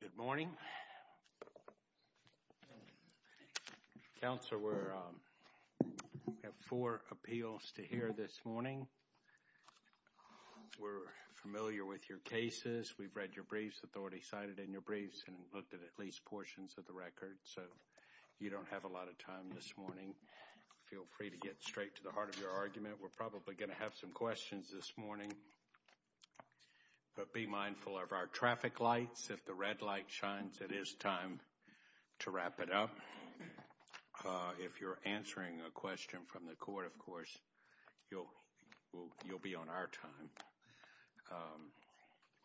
Good morning, Counselor. We have four appeals to hear this morning. We're familiar with your cases. We've read your briefs, authority cited in your briefs, and looked at at least portions of the record, so you don't have a lot of time this morning. Feel free to get straight to the heart of your argument. We're probably going to have some questions this morning, but be mindful of our traffic lights. If the red light shines, it is time to wrap it up. If you're answering a question from the court, of course, you'll be on our time.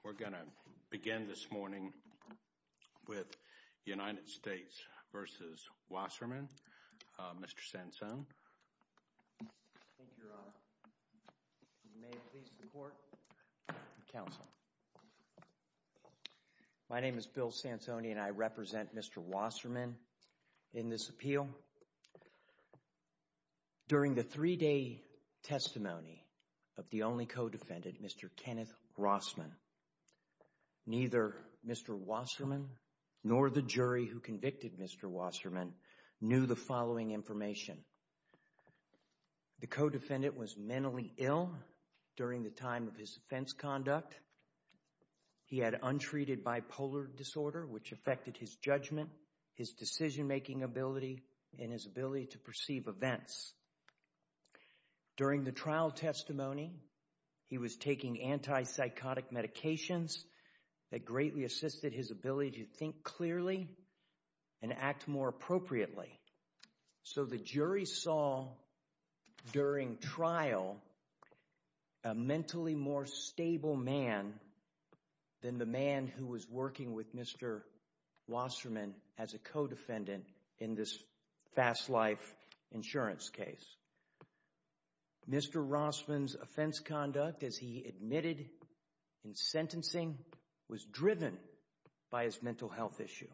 We're going to begin this morning with United States v. Wasserman, Mr. Sansone. My name is Bill Sansone, and I represent Mr. Wasserman in this appeal. During the three-day testimony of the only co-defendant, Mr. Kenneth Rossman, neither Mr. Wasserman nor the jury who convicted Mr. Wasserman knew the following information. The co-defendant was mentally ill during the time of his offense conduct. He had untreated bipolar disorder, which affected his judgment, his decision-making ability, and his ability to perceive events. During the trial testimony, he was taking anti-psychotic medications that greatly assisted his ability to think clearly and act more appropriately. So the jury saw during trial a mentally more stable man than the man who was working with Mr. Wasserman as a co-defendant in this fast life insurance case. Mr. Rossman's offense conduct, as he admitted in sentencing, was driven by his mental health issue.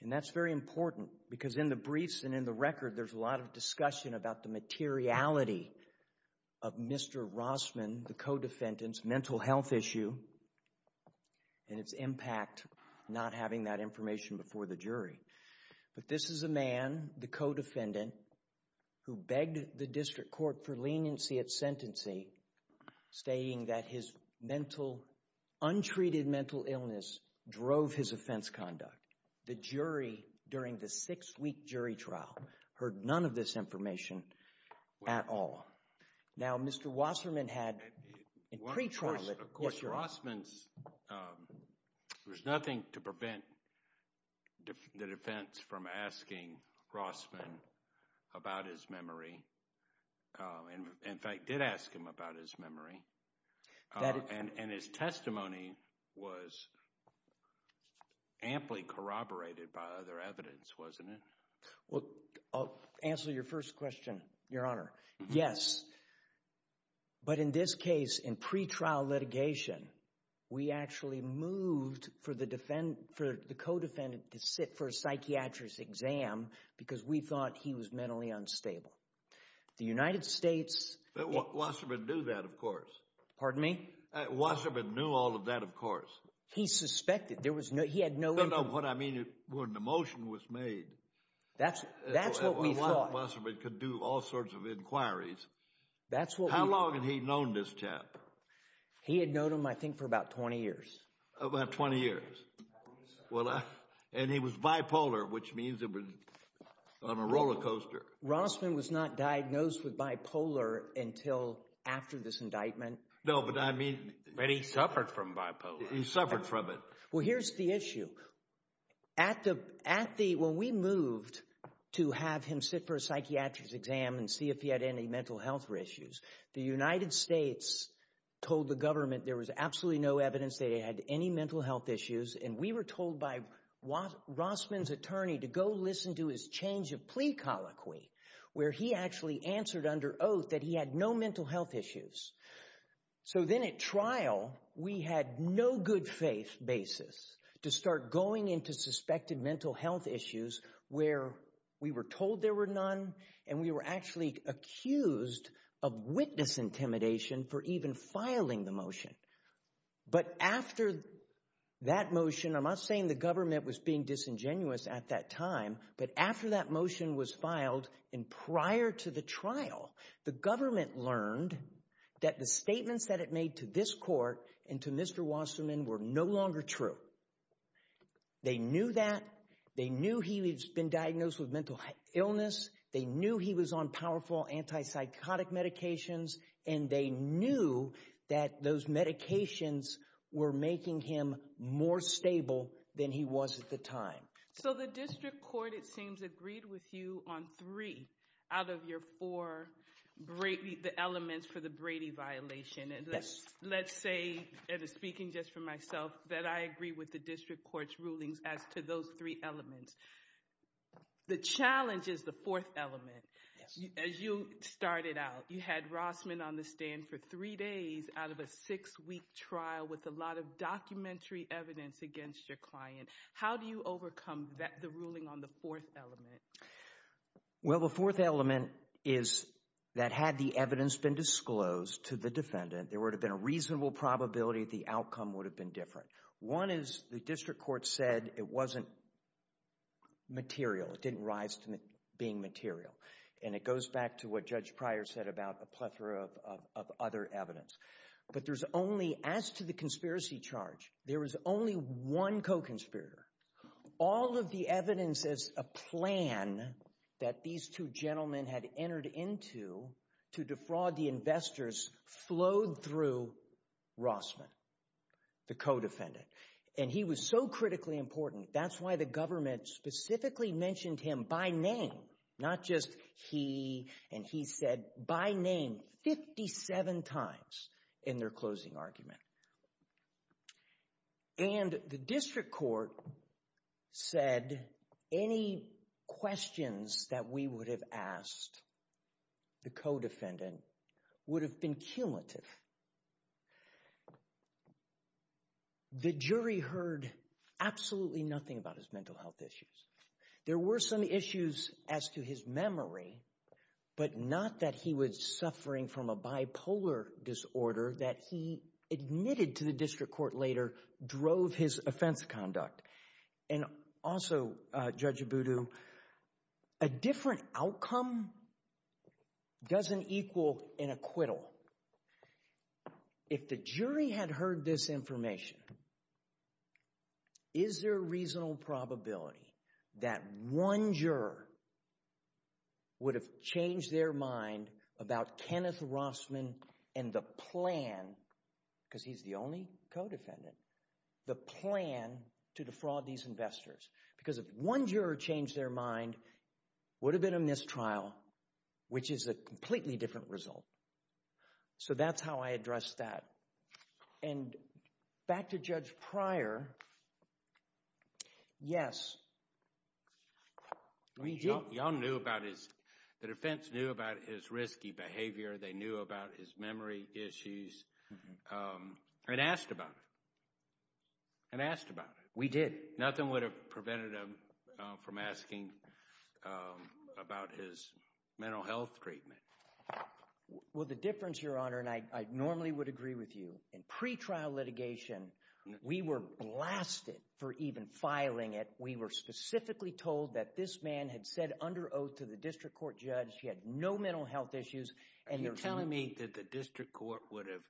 And that's very important because in the briefs and in the record, there's a lot of discussion about the materiality of Mr. Rossman, the co-defendant's mental health issue, and its impact not having that information before the jury. But this is a man, the co-defendant, who begged the district court for leniency at sentencing, stating that his untreated mental illness drove his offense at all. Now, Mr. Wasserman had, in pre-trial, of course, Rossman's, there's nothing to prevent the defense from asking Rossman about his memory. In fact, did ask him about his memory. And his testimony was amply corroborated by other evidence, wasn't it? Well, I'll answer your first question, Your Honor. Yes. But in this case, in pre-trial litigation, we actually moved for the co-defendant to sit for a psychiatrist exam because we thought he was mentally unstable. The United States... Wasserman knew that, of course. Pardon me? Wasserman knew all of that, of course. He suspected. There was no, he had no... No, no, what I mean is when the motion was made... That's what we thought. Wasserman could do all sorts of inquiries. How long had he known this chap? He had known him, I think, for about 20 years. About 20 years. Well, and he was bipolar, which means it was on a roller coaster. Rossman was not diagnosed with bipolar until after this indictment. No, but I mean... But he suffered from bipolar. He suffered from it. Well, here's the issue. When we moved to have him sit for a psychiatrist exam and see if he had any mental health issues, the United States told the government there was absolutely no evidence that he had any mental health issues, and we were told by Rossman's attorney to go listen to his change of plea colloquy, where he actually answered under oath that he had no mental health issues. So then at trial, we had no good faith basis to start going into suspected mental health issues where we were told there were none, and we were actually accused of witness intimidation for even filing the motion. But after that motion, I'm not saying the government was being disingenuous at that time, but after that motion was filed, and prior to the trial, the government learned that the statements that it made to this court and to Mr. Wasserman were no longer true. They knew that. They knew he had been diagnosed with mental illness. They knew he was on powerful anti-psychotic medications, and they knew that those medications were making him more stable than he was at the time. So the district court, it seems, agreed with you on three out of your four elements for the Brady violation, and let's say, and speaking just for myself, that I agree with the district court's rulings as to those three elements. The challenge is the fourth element. As you started out, you had Rossman on the stand for three days out of a six-week trial with a lot of documentary evidence against your client. How do you overcome the ruling on the fourth element? Well, the fourth element is that had the evidence been disclosed to the defendant, there would have been a reasonable probability the outcome would have been different. One is the district court said it wasn't material. It didn't rise to being material, and it goes back to what Judge Pryor said about a plethora of other evidence. But there's only, as to the conspiracy charge, there was only one co-conspirator. All of the evidence as a plan that these two gentlemen had entered into to defraud the investors flowed through Rossman, the co-defendant. And he was so critically important, that's why the government specifically mentioned him by name, not just he, and he said by name 57 times in their closing argument. And the district court said any questions that we would have asked the co-defendant would have been cumulative. The jury heard absolutely nothing about his mental health issues. There were some issues as to his memory, but not that he was suffering from a bipolar disorder that he admitted to the district court later drove his offense conduct. And also, Judge Abudu, a different outcome doesn't equal an acquittal. If the jury had heard this information, is there a reasonable probability that one juror would have changed their mind about Kenneth Rossman and the plan, because he's the only co-defendant, the plan to defraud these investors? Because if one juror changed their mind, would have been a mistrial, which is a completely different result. So that's how I assess that. And back to Judge Pryor, yes, we do. Y'all knew about his, the defense knew about his risky behavior, they knew about his memory issues, and asked about it, and asked about it. We did. Nothing would have prevented him from asking about his mental health treatment. Well, the difference, Your Honor, and I normally would agree with you, in pretrial litigation, we were blasted for even filing it. We were specifically told that this man had said under oath to the district court judge he had no mental health issues. And you're telling me that the district court would have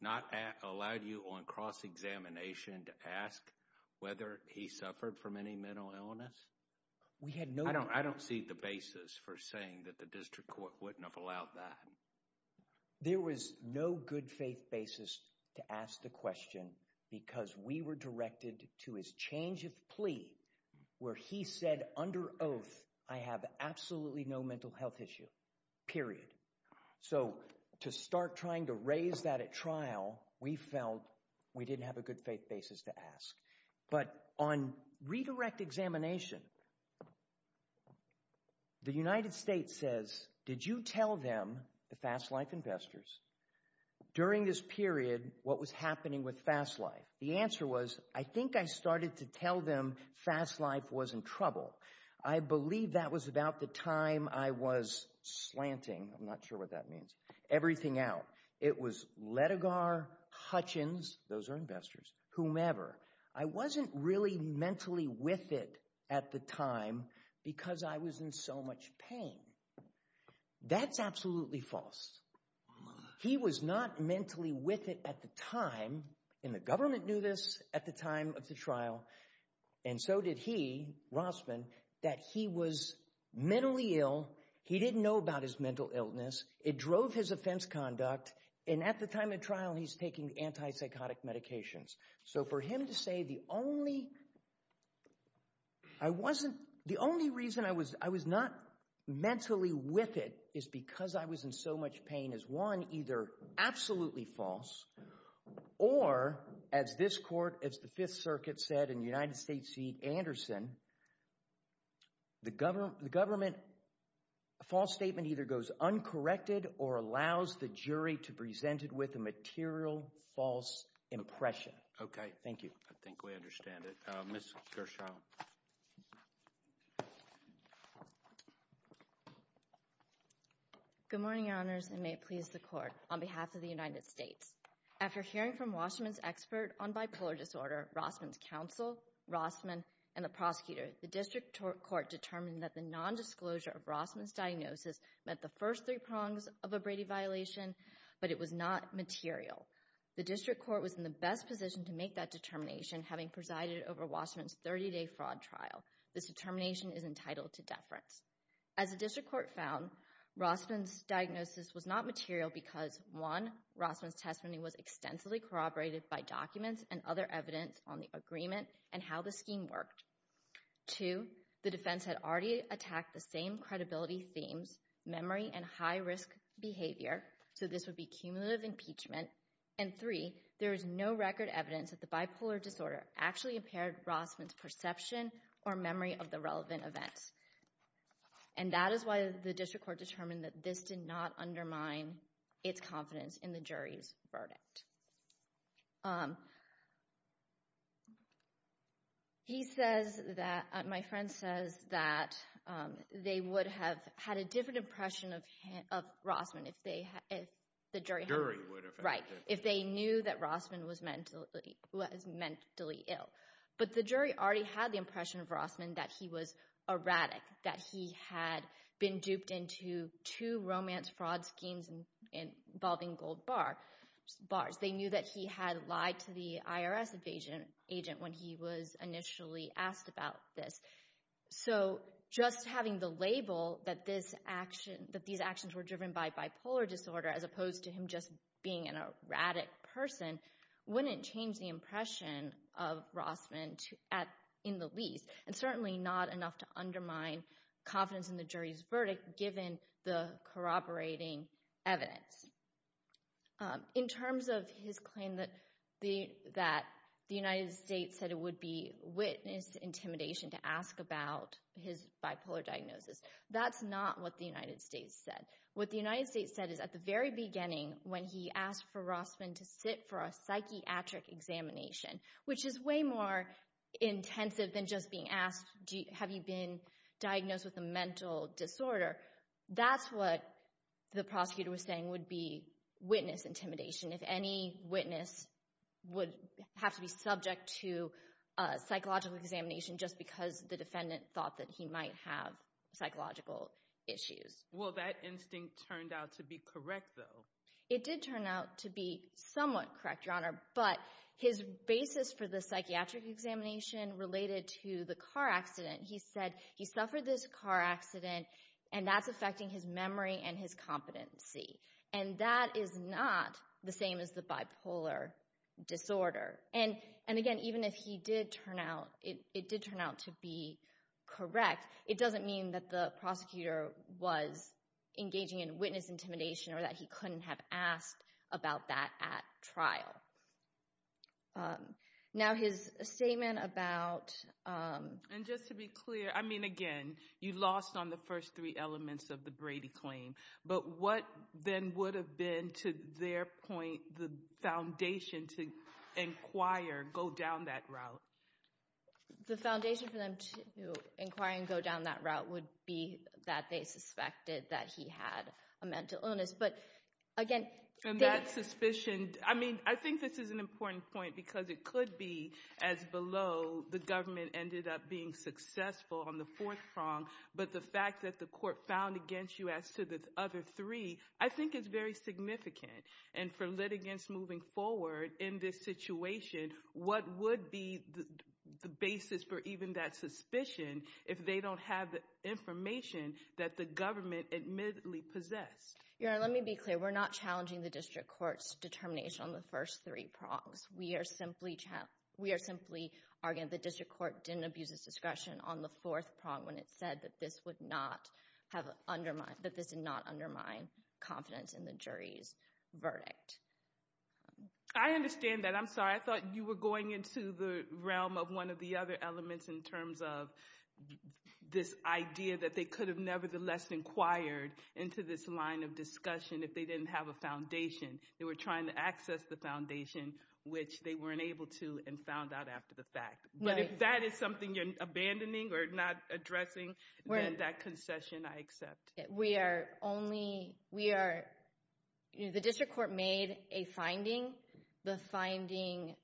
not allowed you on cross-examination to ask whether he suffered from any mental illness? We had no... I don't see the basis for saying that the district court wouldn't have allowed that. There was no good faith basis to ask the question, because we were directed to his changeth plea, where he said under oath, I have absolutely no mental health issue, period. So to start trying to raise that at trial, we felt we didn't have a good faith basis to ask. But on redirect examination, the United States says, did you tell them, the Fast Life investors, during this period, what was happening with Fast Life? The answer was, I think I started to tell them Fast Life was in trouble. I believe that was about the time I was slanting, I'm not sure what that means, everything out. It was Letigar, Hutchins, those are investors, whomever. I wasn't really mentally with it at the time because I was in so much pain. That's absolutely false. He was not mentally with it at the time, and the government knew this at the time of the trial, and so did he, Rossman, that he was mentally ill. He didn't know about his mental illness. It drove his offense conduct, and at the time of trial, he's taking anti-psychotic medications. So for him to say the only reason I was not mentally with it is because I was in so much pain is one, either absolutely false, or as this court, as the Fifth Circuit said in the United States seat, Anderson, the government, a false statement either goes uncorrected or allows the jury to present it with a material false impression. Okay, thank you. I think we understand it. Ms. Gershaw. Good morning, your honors, and may it please the court. On behalf of the United States, after hearing from Washman's expert on bipolar disorder, Rossman's counsel, Rossman, and the prosecutor, the district court determined that the nondisclosure of Rossman's diagnosis met the first three prongs of a Brady violation, but it was not material. The district court was in the best position to make that determination, having presided over Washman's 30-day fraud trial. This determination is entitled to deference. As the district court found, Rossman's diagnosis was not material because, one, Rossman's testimony was extensively corroborated by documents and other evidence on the agreement and how the scheme worked. Two, the defense had already attacked the same credibility themes, memory and high-risk behavior, so this would be cumulative impeachment. And three, there is no record evidence that the bipolar disorder actually impaired Rossman's perception or memory of the relevant events. And that is why the district court determined that this did not undermine its confidence in the jury's verdict. He says that, my friend says that they would have had a different impression of Rossman if they, if the jury The jury would have had Right, if they knew that Rossman was mentally, was mentally ill. But the jury already had the impression of Rossman that he was erratic, that he had been duped into two romance fraud schemes involving gold bars. They knew that he had lied to the IRS agent when he was initially asked about this. So just having the label that this action, that these actions were driven by bipolar disorder as opposed to him just being an erratic person wouldn't change the impression of Rossman in the least. And certainly not enough to undermine confidence in the jury's verdict given the corroborating evidence. In terms of his claim that the United States said it would be witness intimidation to ask about his bipolar diagnosis, that's not what the United States said. What the United States said is at the very beginning when he asked for Rossman to sit for a psychiatric examination, which is way more intensive than just being asked, have you been diagnosed with a mental disorder? That's what the prosecutor was saying would be witness intimidation. If any witness would have to be subject to a psychological examination just because the defendant thought that he might have psychological issues. Well, that instinct turned out to be correct though. It did turn out to be somewhat correct, Your Honor, but his basis for the psychiatric examination related to the car accident, he said he suffered this car accident and that's affecting his memory and his competency. And that is not the same as the bipolar disorder. And again, even if he did turn out, it did turn out to be correct, it doesn't mean that the prosecutor was engaging in witness intimidation or that he couldn't have asked about that at trial. Now his statement about— And just to be clear, I mean, again, you lost on the first three elements of the Brady claim, but what then would have been, to their point, the foundation to inquire, go down that route? The foundation for them to inquire and go down that route would be that they suspected that he had a mental illness. But again— And that suspicion, I mean, I think this is an important point because it could be as below the government ended up being successful on the fourth prong, but the fact that the court found against you as to the other three I think is very significant. And for litigants moving forward in this situation, what would be the basis for even that suspicion if they don't have the information that the government admittedly possessed? Your Honor, let me be clear. We're not challenging the district court's determination on the first three prongs. We are simply arguing that the district court didn't abuse its discretion on the fourth prong when it said that this would not undermine confidence in the jury's verdict. I understand that. I'm sorry, I thought you were going into the realm of one of the other elements in terms of this idea that they could have nevertheless inquired into this line of discussion if they didn't have a foundation. They were trying to access the foundation, which they weren't able to and found out after the fact. But if that is something you're abandoning or not addressing, then that concession I accept. We are only—the district court made a finding. The finding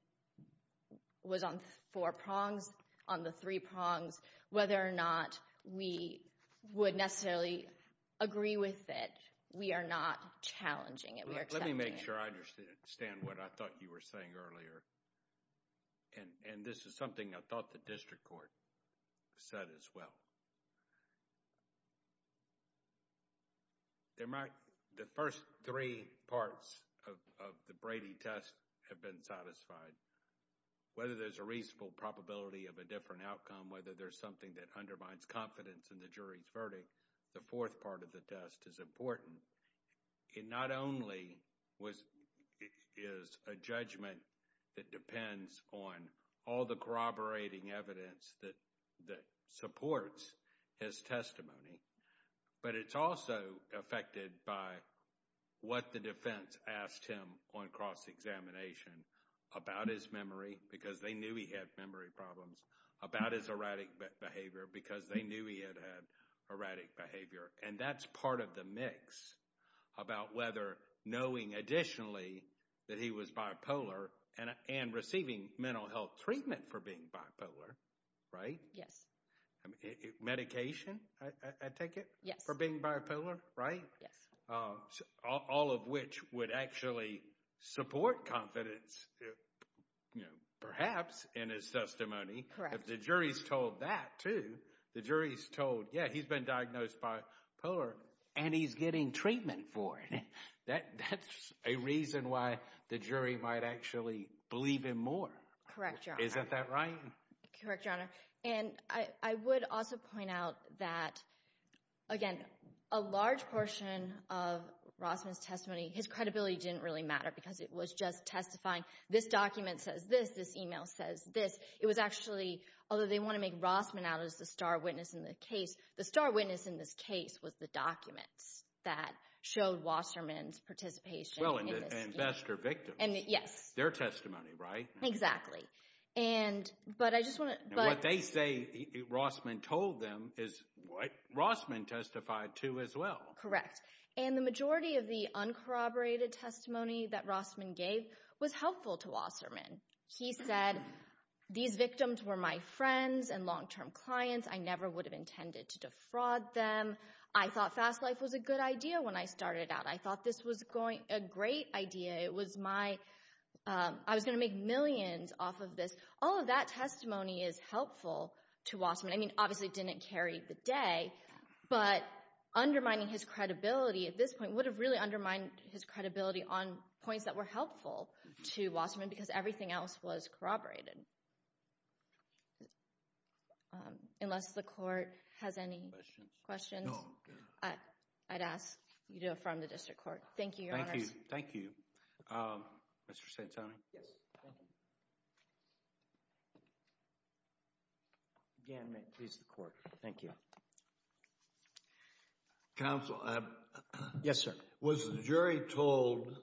was on four prongs, on the three prongs. Whether or not we would necessarily agree with it, we are not challenging it. Let me make sure I understand what I thought you were saying earlier. And this is something I thought the district court said as well. The first three parts of the Brady test have been satisfied. Whether there's a reasonable probability of a different outcome, whether there's something that undermines confidence in the jury's verdict, the fourth part of the test is important. It not only is a judgment that depends on all the corroborating evidence that supports his testimony, but it's also affected by what the defense asked him on cross-examination about his memory, because they knew he had memory problems, about his erratic behavior, because they knew he had erratic behavior. And that's part of the mix about whether knowing additionally that he was bipolar and receiving mental health treatment for being bipolar, right? Yes. Medication, I take it? Yes. For being bipolar, right? Yes. All of which would actually support confidence, perhaps, in his testimony. Correct. The jury's told that, too. The jury's told, yeah, he's been diagnosed bipolar, and he's getting treatment for it. That's a reason why the jury might actually believe him more. Correct, Your Honor. Isn't that right? Correct, Your Honor. And I would also point out that, again, a large portion of Rossman's testimony, his credibility didn't really matter because it was just testifying, this document says this, this email says this. It was actually, although they want to make Rossman out as the star witness in the case, the star witness in this case was the documents that showed Rossman's participation. Well, and best are victims. Yes. Their testimony, right? Exactly. And what they say Rossman told them is what Rossman testified to as well. Correct. And the majority of the uncorroborated testimony that Rossman gave was helpful to Rossman. He said, these victims were my friends and long-term clients. I never would have intended to defraud them. I thought fast life was a good idea when I started out. I thought this was a great idea. It was my, I was going to make millions off of this. All of that testimony is helpful to Rossman. I mean, obviously it didn't carry the day, but undermining his credibility at this point would have really undermined his credibility on points that were helpful to Rossman because everything else was corroborated. Unless the court has any questions, I'd ask you to affirm the district court. Thank you, your honors. Thank you. Mr. Santoni? Yes. Thank you. Again, may it please the court. Thank you. Counsel. Yes, sir. Was the jury told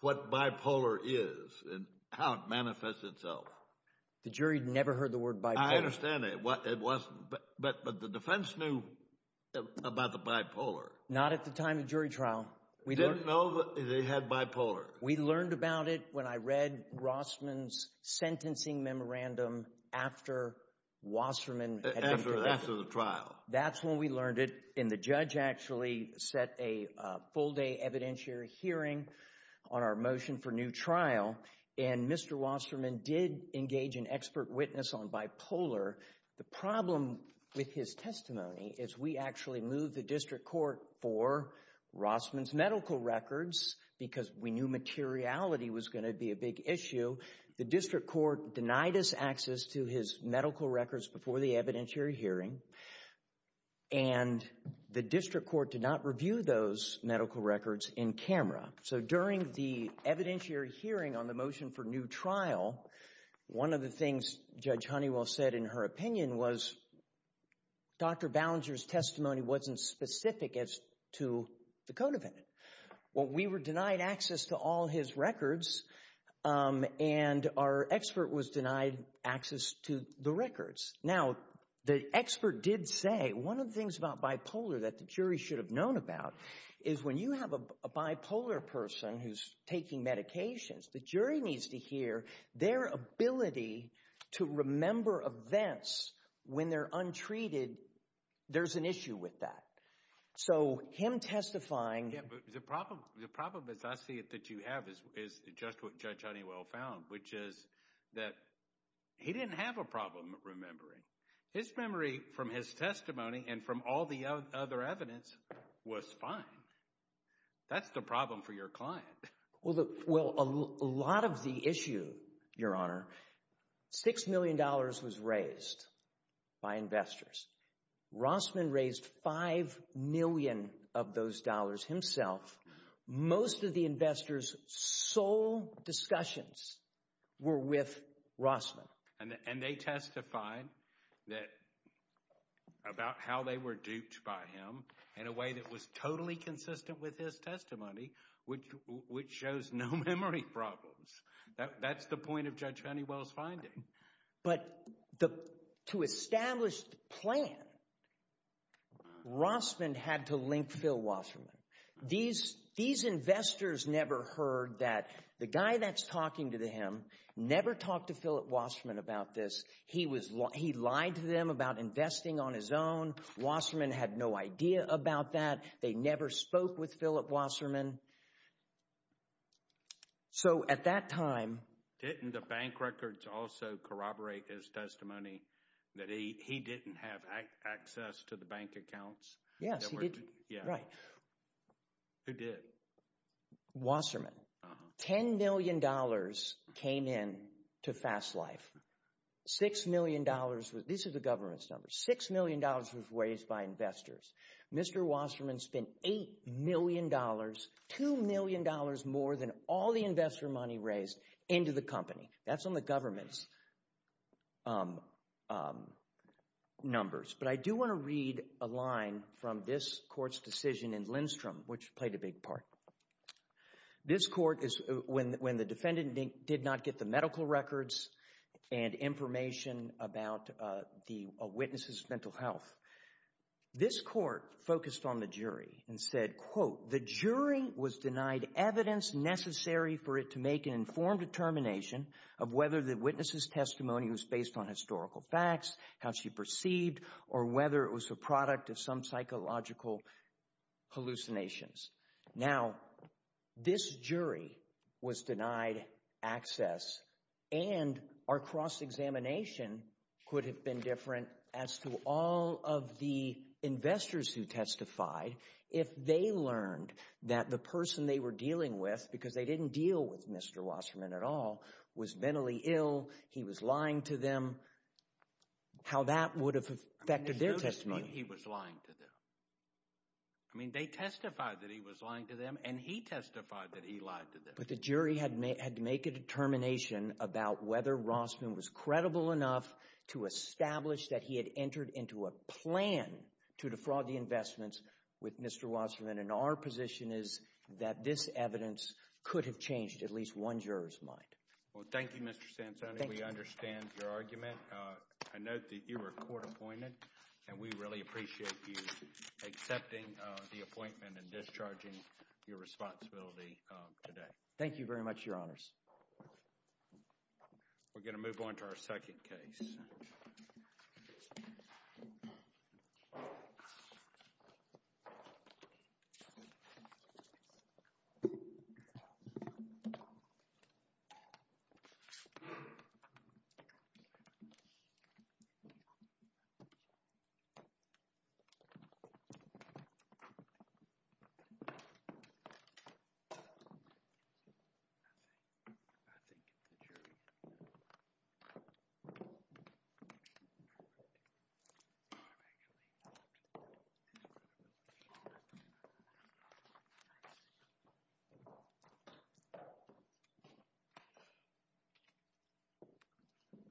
what bipolar is and how it manifests itself? The jury never heard the word bipolar. I understand that. It wasn't, but the defense knew about the bipolar. Not at the time of the jury trial. They didn't know they had bipolar. We learned about it when I read Rossman's sentencing memorandum after Wasserman had been convicted. After the trial. That's when we learned it, and the judge actually set a full-day evidentiary hearing on our motion for new trial, and Mr. Wasserman did engage an expert witness on bipolar. The problem with his testimony is we actually moved the district court for Rossman's medical records because we knew materiality was going to be a big issue. The district court denied us access to his medical records before the evidentiary hearing, and the district court did not review those medical records in camera. So during the evidentiary hearing on the motion for new trial, one of the things Judge Honeywell said in her opinion was Dr. Ballinger's testimony wasn't specific as to the co-defendant. Well, we were denied access to all his records, and our expert was denied access to the records. Now, the expert did say one of the things about bipolar that the jury should have known about is when you have a bipolar person who's taking medications, the jury needs to hear their ability to remember events when they're untreated. There's an issue with that. So him testifying— Yeah, but the problem, as I see it, that you have is just what Judge Honeywell found, which is that he didn't have a problem remembering. His memory from his testimony and from all the other evidence was fine. That's the problem for your client. Well, a lot of the issue, Your Honor, $6 million was raised by investors. Rossman raised $5 million of those dollars himself. Most of the investors' sole discussions were with Rossman. And they testified about how they were duped by him in a way that was totally consistent with his testimony, which shows no memory problems. That's the point of Judge Honeywell's finding. But to establish the plan, Rossman had to link Phil Wasserman. These investors never heard that. The guy that's talking to him never talked to Philip Wasserman about this. He lied to them about investing on his own. Wasserman had no idea about that. They never spoke with Philip Wasserman. So at that time— Didn't the bank records also corroborate his testimony that he didn't have access to the bank accounts? Yes, he did. Who did? Wasserman. $10 million came in to Fast Life. $6 million—these are the government's numbers—$6 million was raised by investors. Mr. Wasserman spent $8 million, $2 million more than all the investor money raised, into the company. That's on the government's numbers. But I do want to read a line from this court's decision in Lindstrom, which played a big part. This court, when the defendant did not get the medical records and information about the witnesses' mental health, this court focused on the jury and said, the jury was denied evidence necessary for it to make an informed determination of whether the witness's testimony was based on historical facts, how she perceived, or whether it was the product of some psychological hallucinations. Now, this jury was denied access, and our cross-examination could have been different as to all of the investors who testified if they learned that the person they were dealing with, because they didn't deal with Mr. Wasserman at all, was mentally ill, he was lying to them, how that would have affected their testimony. He was lying to them. I mean, they testified that he was lying to them, and he testified that he lied to them. But the jury had to make a determination about whether Rossman was credible enough to establish that he had entered into a plan to defraud the investments with Mr. Wasserman, and our position is that this evidence could have changed at least one juror's mind. Well, thank you, Mr. Sansoni. We understand your argument. I note that you were court-appointed, and we really appreciate you accepting the appointment and discharging your responsibility today. Thank you very much, Your Honors. We're going to move on to our second case. I think it's the jury.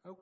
Okay.